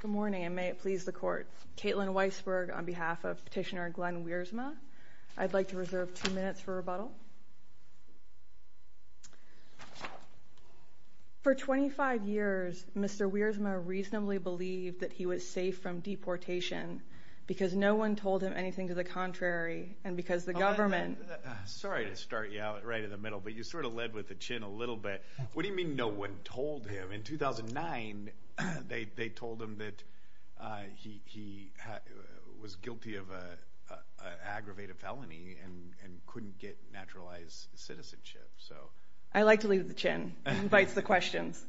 Good morning and may it please the court. Caitlin Weisberg on behalf of petitioner Glenn Wiersma. I'd like to reserve two minutes for rebuttal. For 25 years Mr. Wiersma reasonably believed that he was safe from deportation because no one told him anything to the contrary and because the government Sorry to start you out right in the middle but you sort of led with the chin a little bit. What do you mean no one told him? In 2009 they told him that he was guilty of an aggravated felony and couldn't get naturalized citizenship. I like to lead with the chin. It invites the questions.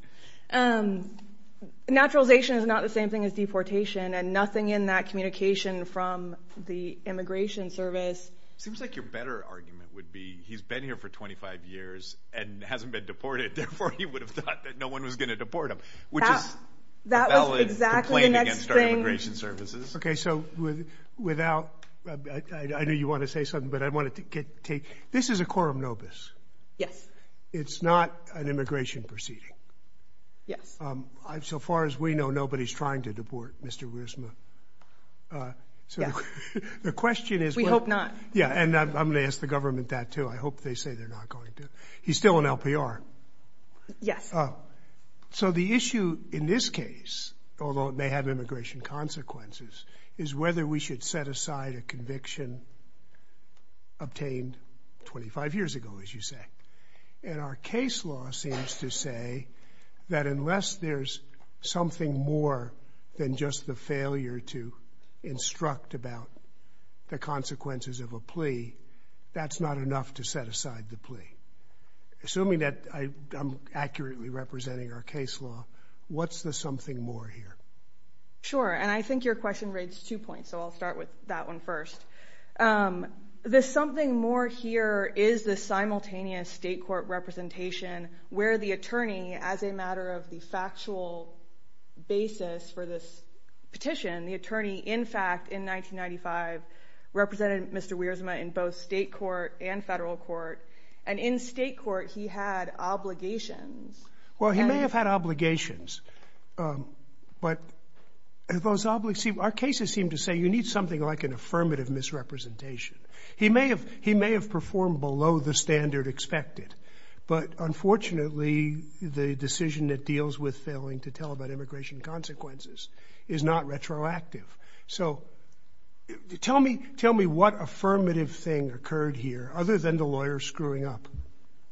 Naturalization is not the same thing as deportation and nothing in that communication from the immigration service. Seems like your better argument would be he's been here for 25 years and hasn't been deported therefore he would have thought that no one was going to deport him. Which is a valid complaint against our immigration services. This is a quorum nobis. It's not an immigration proceeding. So far as we know nobody is trying to deport Mr. Wiersma. We hope not. I'm going to ask the government that too. I hope they say they're not going to. He's still in LPR. Yes. So the issue in this case, although it may have immigration consequences, is whether we should set aside a conviction obtained 25 years ago as you say. And our case law seems to say that unless there's something more than just the failure to instruct about the consequences of a plea, that's not enough to set aside the plea. Assuming that I'm accurately representing our case law, what's the something more here? Sure. And I think your question raised two points. So I'll start with that one first. The something more here is the simultaneous state court representation where the attorney, as a matter of the factual basis for this petition, the attorney in fact in 1995 represented Mr. Wiersma in both state court and federal court. And in state court he had obligations. Well, he may have had obligations, but our cases seem to say you need something like an affirmative misrepresentation. He may have performed below the standard expected, but unfortunately the decision that deals with failing to tell about immigration consequences is not retroactive. So tell me what affirmative thing occurred here other than the lawyer screwing up?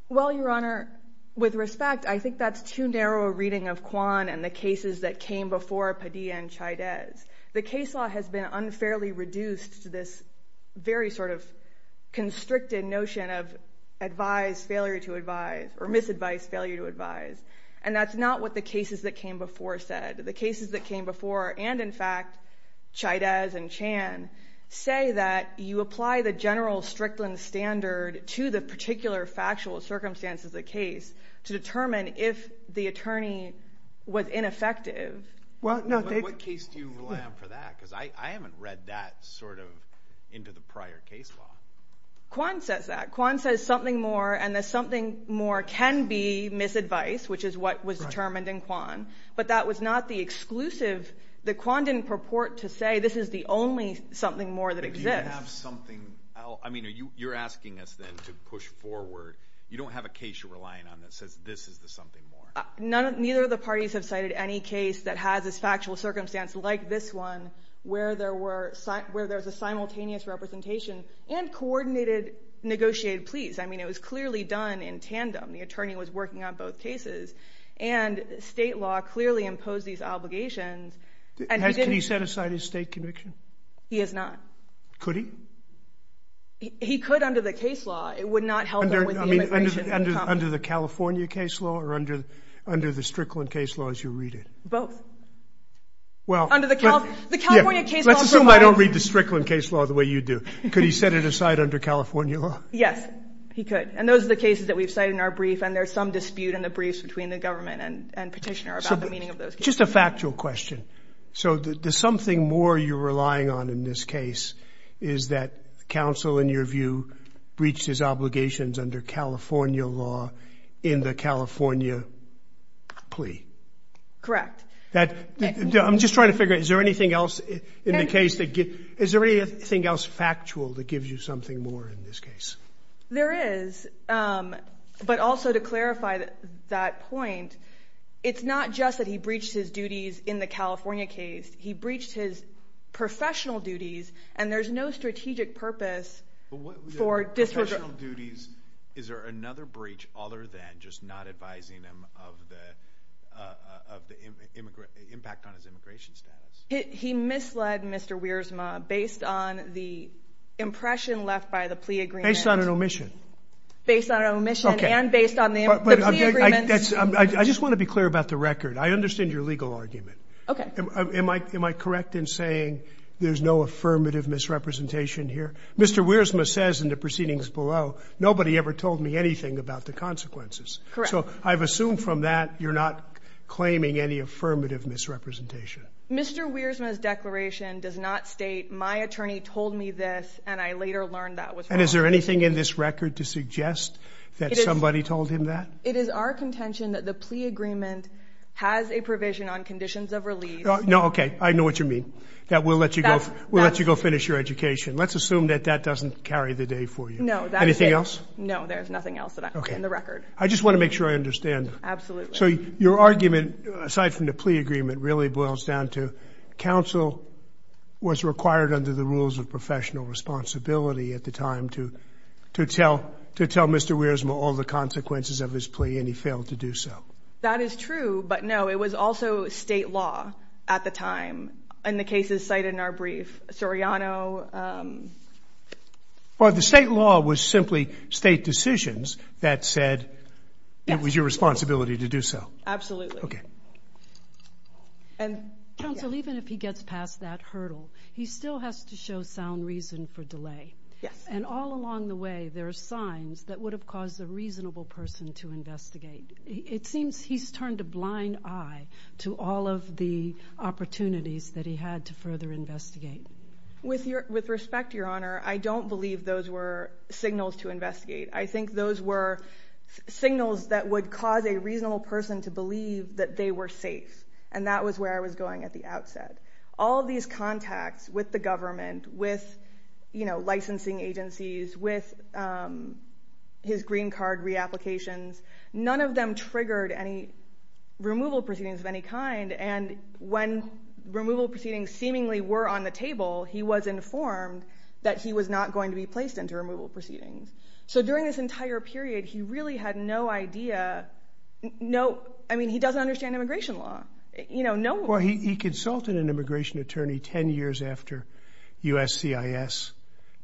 Well, Your Honor, with respect, I think that's too narrow a reading of Kwan and the cases that came before Padilla and Chavez. The case law has been unfairly reduced to this very sort of constricted notion of advise, failure to advise or misadvise, failure to advise. And that's not what the cases that came before said. The cases that came before and in fact Chavez and Chan say that you apply the general Strickland standard to the particular factual circumstances of the case to determine if the attorney was ineffective. What case do you rely on for that? Because I haven't read that sort of into the prior case law. Kwan says that. Kwan says something more and that something more can be misadvise, which is what was determined in Kwan. But that was not the exclusive. Kwan didn't purport to say this is the only something more that exists. But do you have something else? I mean, you're asking us then to push forward. You don't have a case you're relying on that says this is the something more. Neither of the parties have cited any case that has this factual circumstance like this one where there's a simultaneous representation and coordinated negotiated pleas. I mean, it was clearly done in tandem. The attorney was working on both cases and state law clearly imposed these obligations. Can he set aside his state conviction? He has not. Could he? He could under the case law. It would not help. I mean, under the California case law or under under the Strickland case laws, you read it both. Well, under the California case, let's assume I don't read the Strickland case law the way you do. Could he set it aside under California? Yes, he could. And those are the cases that we've cited in our brief. And there's some dispute in the briefs between the government and petitioner about the meaning of those. Just a factual question. So there's something more you're relying on in this case. Is that counsel, in your view, breached his obligations under California law in the California plea? Correct. That I'm just trying to figure out, is there anything else in the case to get? Is there anything else factual that gives you something more in this case? There is. But also to clarify that point, it's not just that he breached his duties in the California case. He breached his professional duties and there's no strategic purpose for district duties. Is there another breach other than just not advising them of the of the immigrant impact on his immigration status? He misled Mr. Wiersma based on the impression left by the plea agreement. Based on an omission. Based on an omission and based on the plea agreement. I just want to be clear about the record. I understand your legal argument. Am I correct in saying there's no affirmative misrepresentation here? Mr. Wiersma says in the proceedings below, nobody ever told me anything about the consequences. So I've assumed from that you're not claiming any affirmative misrepresentation. Mr. Wiersma's declaration does not state, my attorney told me this and I later learned that was wrong. And is there anything in this record to suggest that somebody told him that? It is our contention that the plea agreement has a provision on conditions of release. No, okay. I know what you mean. That will let you go finish your education. Let's assume that that doesn't carry the day for you. No, that's it. Anything else? No, there's nothing else in the record. I just want to make sure I understand. Absolutely. So your argument, aside from the plea agreement, really boils down to counsel was required under the rules of professional responsibility at the time to tell Mr. Wiersma all the consequences of his plea and he failed to do so. That is true, but no, it was also state law at the time. And the case is cited in our brief. Soriano... Well, the state law was simply state decisions that said it was your responsibility to do so. Absolutely. Okay. Counsel, even if he gets past that hurdle, he still has to show sound reason for delay. Yes. And all along the way, there are signs that would have caused a reasonable person to investigate. It seems he's turned a blind eye to all of the opportunities that he had to further investigate. With respect, Your Honor, I don't believe those were signals to investigate. I think those were signals that would cause a reasonable person to believe that they were safe. And that was where I was going at the outset. All these contacts with the government, with licensing agencies, with his green card re-applications, none of them triggered any removal proceedings of any kind. And when removal proceedings seemingly were on the table, he was informed that he was not going to be placed into removal proceedings. So during this entire period, he really had no idea. I mean, he doesn't understand immigration law. Well, he consulted an immigration attorney 10 years after USCIS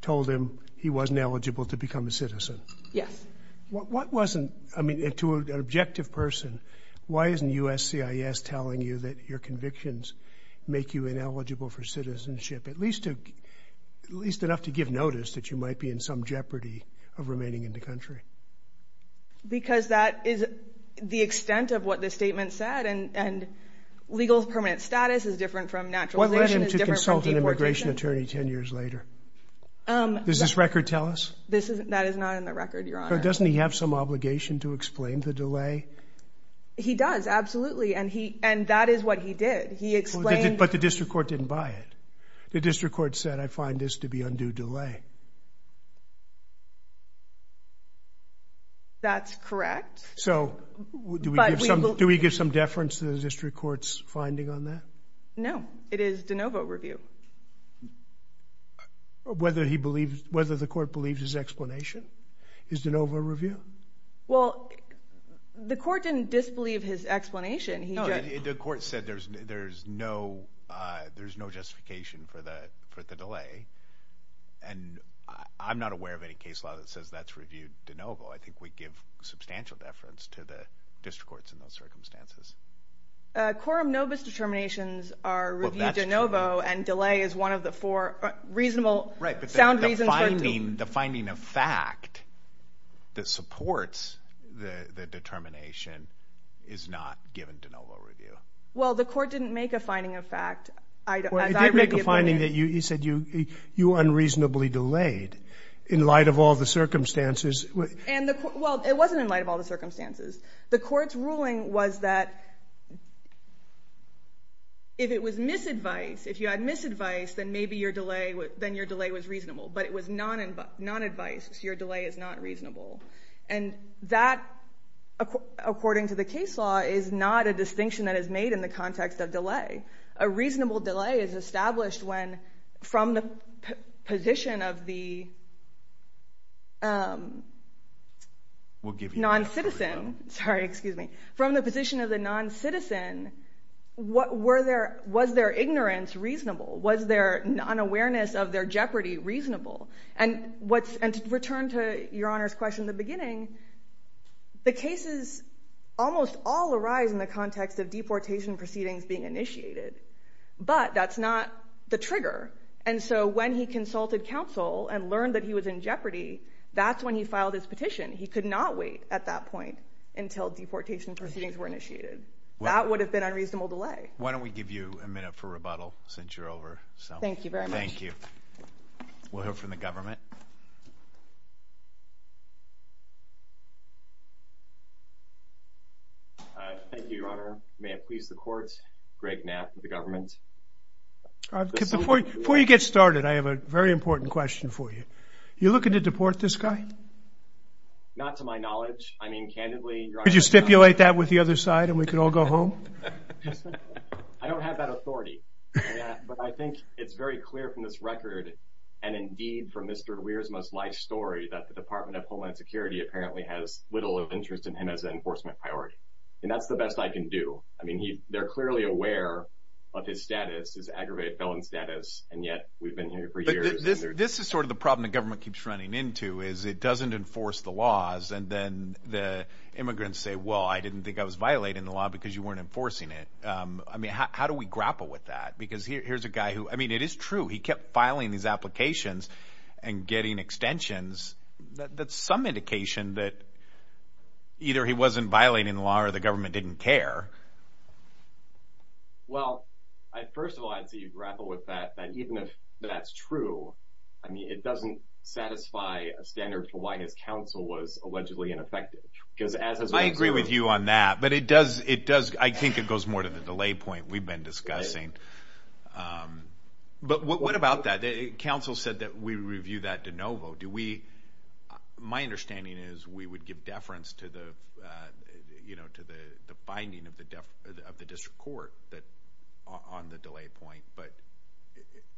told him he wasn't eligible to become a citizen. Yes. What wasn't, I mean, to an objective person, why isn't USCIS telling you that your convictions make you ineligible for citizenship, at least enough to give notice that you might be in some jeopardy of remaining in the country? Because that is the extent of what the statement said. And legal permanent status is different from naturalization. What led him to consult an immigration attorney 10 years later? Does this record tell us? That is not in the record, Your Honor. Doesn't he have some obligation to explain the delay? He does, absolutely, and that is what he did. He explained. But the district court didn't buy it. The district court said, I find this to be undue delay. That's correct. So do we give some deference to the district court's finding on that? No, it is de novo review. Whether the court believes his explanation is de novo review? Well, the court didn't disbelieve his explanation. The court said there's no justification for the delay, and I'm not aware of any case law that says that's reviewed de novo. I think we give substantial deference to the district courts in those circumstances. Quorum nobis determinations are reviewed de novo, and delay is one of the four reasonable sound reasons for de novo. Right, but the finding of fact that supports the determination is not given de novo review. Well, the court didn't make a finding of fact, as I read the opinion. Well, it did make a finding that you said you were unreasonably delayed in light of all the circumstances. Well, it wasn't in light of all the circumstances. The court's ruling was that if it was misadvice, if you had misadvice, then maybe your delay was reasonable, but it was nonadvice, so your delay is not reasonable. And that, according to the case law, is not a distinction that is made in the context of delay. A reasonable delay is established when, from the position of the noncitizen, from the position of the noncitizen, was their ignorance reasonable? Was their unawareness of their jeopardy reasonable? And to return to Your Honor's question in the beginning, the cases almost all arise in the context of deportation proceedings being initiated, but that's not the trigger. And so when he consulted counsel and learned that he was in jeopardy, that's when he filed his petition. He could not wait at that point until deportation proceedings were initiated. That would have been unreasonable delay. Why don't we give you a minute for rebuttal since you're over? Thank you very much. Thank you. We'll hear from the government. Thank you, Your Honor. May it please the court, Greg Knapp of the government. Before you get started, I have a very important question for you. Are you looking to deport this guy? Not to my knowledge. I mean, candidly, Your Honor. Could you stipulate that with the other side and we could all go home? I don't have that authority, but I think it's very clear from this record and indeed from Mr. Weir's most life story that the Department of Homeland Security apparently has little interest in him as an enforcement priority. And that's the best I can do. I mean, they're clearly aware of his status, his aggravated felon status, and yet we've been here for years. This is sort of the problem the government keeps running into is it doesn't enforce the laws and then the immigrants say, well, I didn't think I was violating the law because you weren't enforcing it. I mean, how do we grapple with that? Because here's a guy who – I mean, it is true. He kept filing these applications and getting extensions. That's some indication that either he wasn't violating the law or the government didn't care. Well, first of all, I'd say you grapple with that, that even if that's true, I mean, it doesn't satisfy a standard for why his counsel was allegedly ineffective. I agree with you on that, but it does – I think it goes more to the delay point we've been discussing. But what about that? Counsel said that we review that de novo. Do we – my understanding is we would give deference to the finding of the district court on the delay point, but is it –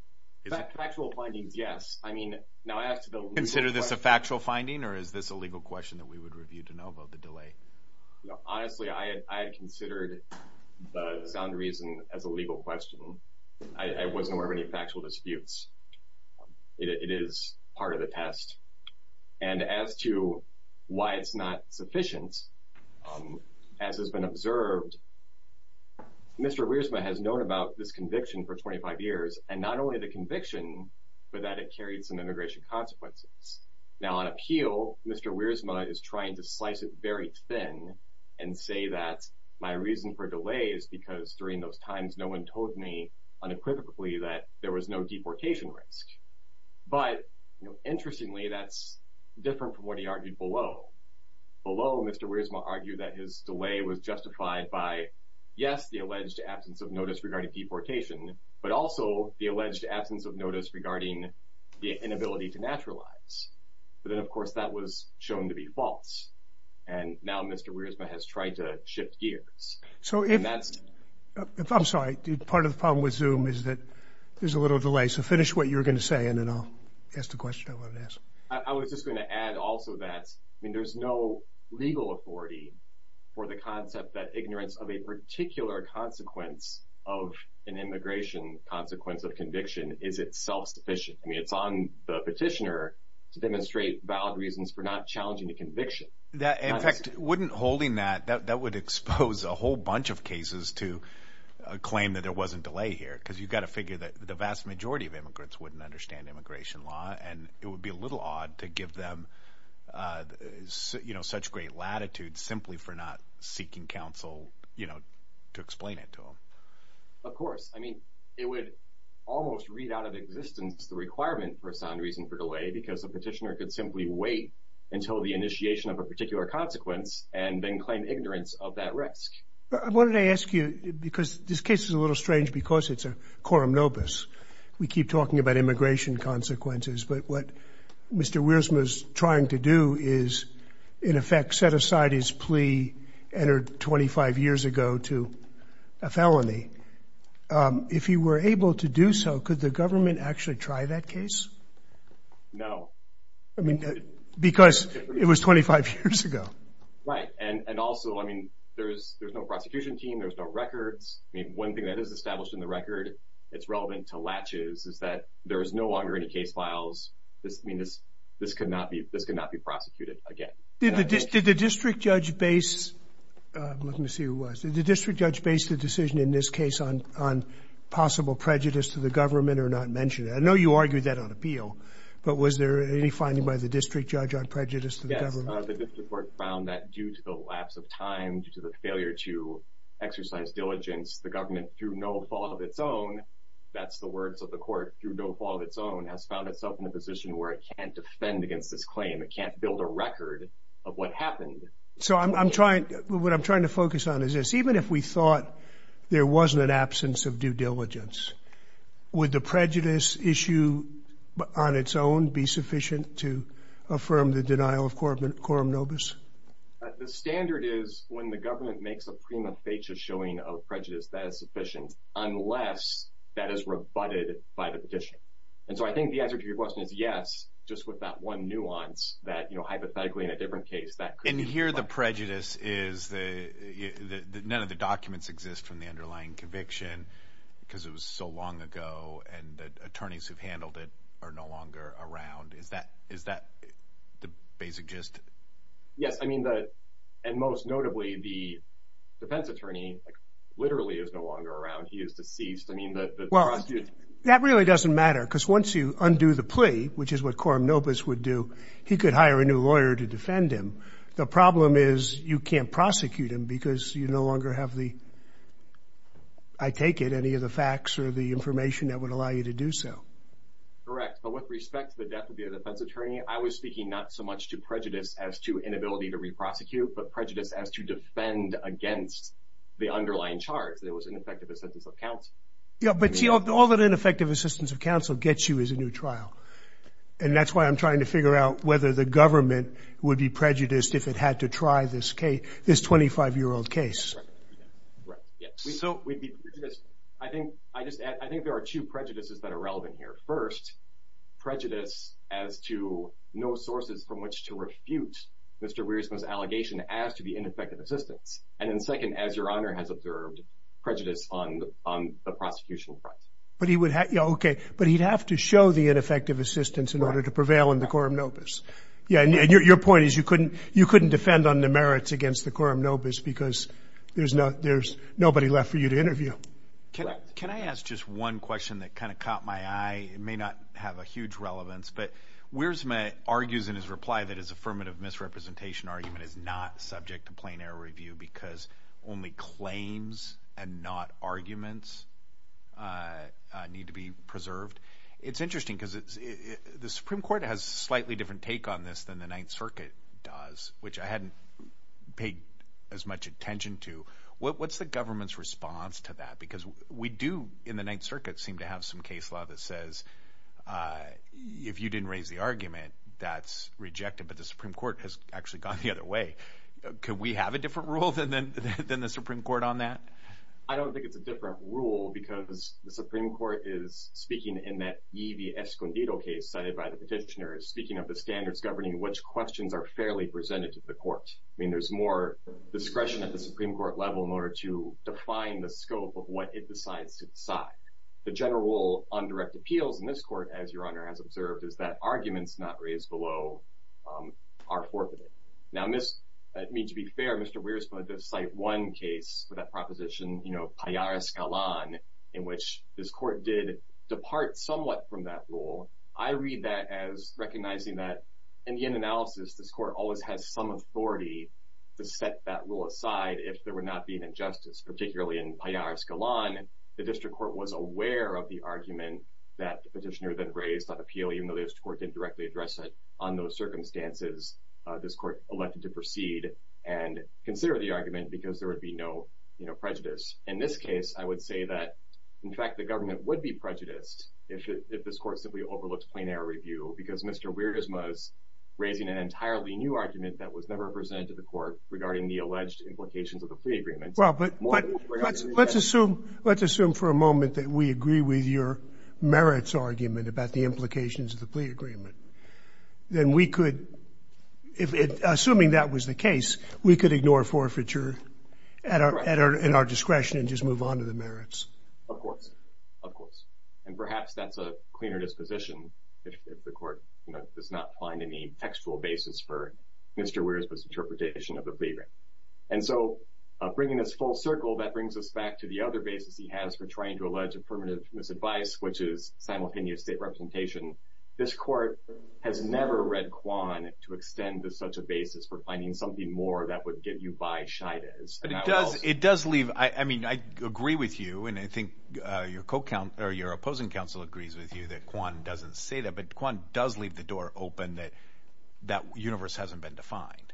Factual findings, yes. I mean, now I ask the legal question. Do you consider this a factual finding or is this a legal question that we would review de novo, the delay? Honestly, I had considered the sound reason as a legal question. I wasn't aware of any factual disputes. It is part of the test. And as to why it's not sufficient, as has been observed, Mr. Wiersma has known about this conviction for 25 years, and not only the conviction, but that it carried some immigration consequences. Now, on appeal, Mr. Wiersma is trying to slice it very thin and say that my reason for delay is because during those times no one told me unequivocally that there was no deportation risk. But interestingly, that's different from what he argued below. Below, Mr. Wiersma argued that his delay was justified by, yes, the alleged absence of notice regarding deportation, but also the alleged absence of notice regarding the inability to naturalize. But then, of course, that was shown to be false. And now Mr. Wiersma has tried to shift gears. I'm sorry. Part of the problem with Zoom is that there's a little delay. So finish what you were going to say, and then I'll ask the question I wanted to ask. I was just going to add also that there's no legal authority for the concept that ignorance of a particular consequence of an immigration consequence of conviction is itself sufficient. I mean, it's on the petitioner to demonstrate valid reasons for not challenging the conviction. In fact, wouldn't holding that, that would expose a whole bunch of cases to a claim that there wasn't delay here, because you've got to figure that the vast majority of immigrants wouldn't understand immigration law, and it would be a little odd to give them such great latitude simply for not seeking counsel to explain it to them. Of course. I mean, it would almost read out of existence the requirement for a sound reason for delay because a petitioner could simply wait until the initiation of a particular consequence and then claim ignorance of that risk. I wanted to ask you, because this case is a little strange because it's a quorum nobis. We keep talking about immigration consequences, but what Mr. Wiersma is trying to do is, in effect, set aside his plea entered 25 years ago to a felony. If he were able to do so, could the government actually try that case? No. Because it was 25 years ago. Right, and also, I mean, there's no prosecution team, there's no records. I mean, one thing that is established in the record that's relevant to latches is that there is no longer any case files. I mean, this could not be prosecuted again. Did the district judge base the decision in this case on possible prejudice to the government or not mention it? I know you argued that on appeal, but was there any finding by the district judge on prejudice to the government? Yes, the district court found that due to the lapse of time, due to the failure to exercise diligence, the government, through no fault of its own, that's the words of the court, through no fault of its own, has found itself in a position where it can't defend against this claim. It can't build a record of what happened. So what I'm trying to focus on is this. Even if we thought there wasn't an absence of due diligence, would the prejudice issue on its own be sufficient to affirm the denial of quorum nobis? The standard is when the government makes a prima facie showing of prejudice, that is sufficient unless that is rebutted by the petitioner. And so I think the answer to your question is yes, just with that one nuance, that hypothetically in a different case, that could be sufficient. And here the prejudice is that none of the documents exist from the underlying conviction because it was so long ago and the attorneys who've handled it are no longer around. Is that the basic gist? Yes. And most notably, the defense attorney literally is no longer around. He is deceased. That really doesn't matter because once you undo the plea, which is what quorum nobis would do, he could hire a new lawyer to defend him. The problem is you can't prosecute him because you no longer have the, I take it, any of the facts or the information that would allow you to do so. Correct. But with respect to the death of the defense attorney, I was speaking not so much to prejudice as to inability to re-prosecute, but prejudice as to defend against the underlying charge that it was ineffective assistance of counsel. Yeah, but see, all that ineffective assistance of counsel gets you is a new trial, and that's why I'm trying to figure out whether the government would be prejudiced if it had to try this 25-year-old case. Yes. So we'd be prejudiced. I think there are two prejudices that are relevant here. First, prejudice as to no sources from which to refute Mr. Weirisman's allegation as to the ineffective assistance. And then second, as Your Honor has observed, prejudice on the prosecutional front. Okay, but he'd have to show the ineffective assistance in order to prevail in the quorum nobis. Yeah, and your point is you couldn't defend on the merits against the quorum nobis because there's nobody left for you to interview. Correct. Can I ask just one question that kind of caught my eye? It may not have a huge relevance, but Weirisman argues in his reply that his affirmative misrepresentation argument is not subject to plain error review because only claims and not arguments need to be preserved. It's interesting because the Supreme Court has a slightly different take on this than the Ninth Circuit does, which I hadn't paid as much attention to. What's the government's response to that? Because we do in the Ninth Circuit seem to have some case law that says if you didn't raise the argument, that's rejected. But the Supreme Court has actually gone the other way. Could we have a different rule than the Supreme Court on that? I don't think it's a different rule because the Supreme Court is speaking in that Yvie Escondido case cited by the petitioners, speaking of the standards governing which questions are fairly presented to the court. I mean, there's more discretion at the Supreme Court level in order to define the scope of what it decides to decide. The general rule on direct appeals in this court, as Your Honor has observed, is that arguments not raised below are forfeited. Now, to be fair, Mr. Weirisman did cite one case for that proposition, you know, Payar Escalon, in which this court did depart somewhat from that rule. I read that as recognizing that in the end analysis, this court always has some authority to set that rule aside if there were not being injustice, particularly in Payar Escalon. The district court was aware of the argument that the petitioner then raised on appeal, even though the district court didn't directly address it. On those circumstances, this court elected to proceed and consider the argument because there would be no, you know, prejudice. In this case, I would say that, in fact, the government would be prejudiced if this court simply overlooked plain error review because Mr. Weirisman is raising an entirely new argument that was never presented to the court regarding the alleged implications of the plea agreement. Well, but let's assume for a moment that we agree with your merits argument about the implications of the plea agreement. Then we could, assuming that was the case, we could ignore forfeiture at our discretion and just move on to the merits. Of course. Of course. And perhaps that's a cleaner disposition if the court does not find any textual basis for Mr. Weirisman's interpretation of the plea agreement. And so bringing this full circle, that brings us back to the other basis he has for trying to allege affirmative misadvice, which is simultaneous state representation. This court has never read Kwan to extend to such a basis for finding something more that would get you by Shidez. It does leave, I mean, I agree with you. And I think your opposing counsel agrees with you that Kwan doesn't say that, but Kwan does leave the door open that that universe hasn't been defined.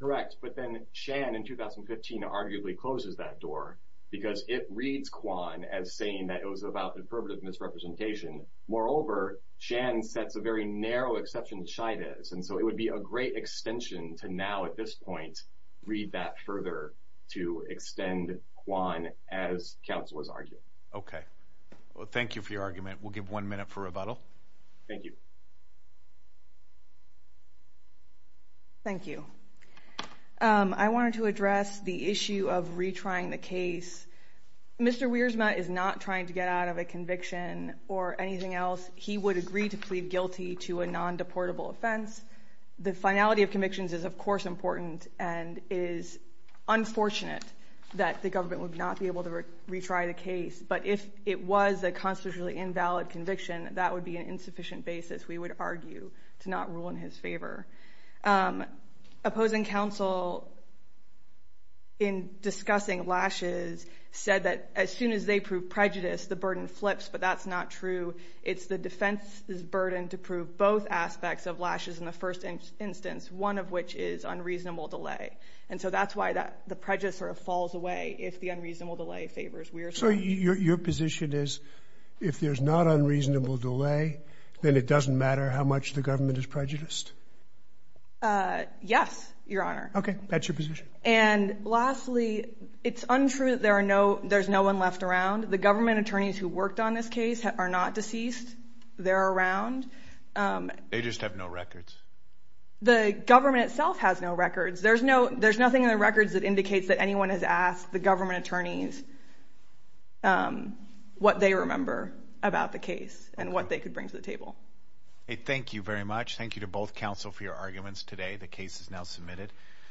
Correct. But then Shan in 2015 arguably closes that door because it reads Kwan as saying that it was about affirmative misrepresentation. Moreover, Shan sets a very narrow exception to Shidez. And so it would be a great extension to now at this point read that further to Okay. Well, thank you for your argument. We'll give one minute for rebuttal. Thank you. Thank you. I wanted to address the issue of retrying the case. Mr. Weirisman is not trying to get out of a conviction or anything else. He would agree to plead guilty to a non-deportable offense. The finality of convictions is, of course, important, and it is unfortunate that the government would not be able to retry the case. But if it was a constitutionally invalid conviction, that would be an insufficient basis, we would argue, to not rule in his favor. Opposing counsel in discussing lashes said that as soon as they prove prejudice, the burden flips, but that's not true. It's the defense's burden to prove both aspects of lashes in the first instance, one of which is unreasonable delay. And so that's why the prejudice sort of falls away if the unreasonable delay favors Weirisman. So your position is if there's not unreasonable delay, then it doesn't matter how much the government is prejudiced? Yes, Your Honor. Okay, that's your position. And lastly, it's untrue that there's no one left around. The government attorneys who worked on this case are not deceased. They're around. They just have no records. The government itself has no records. There's nothing in the records that indicates that anyone has asked the government attorneys what they remember about the case and what they could bring to the table. Thank you very much. Thank you to both counsel for your arguments today. The case is now submitted.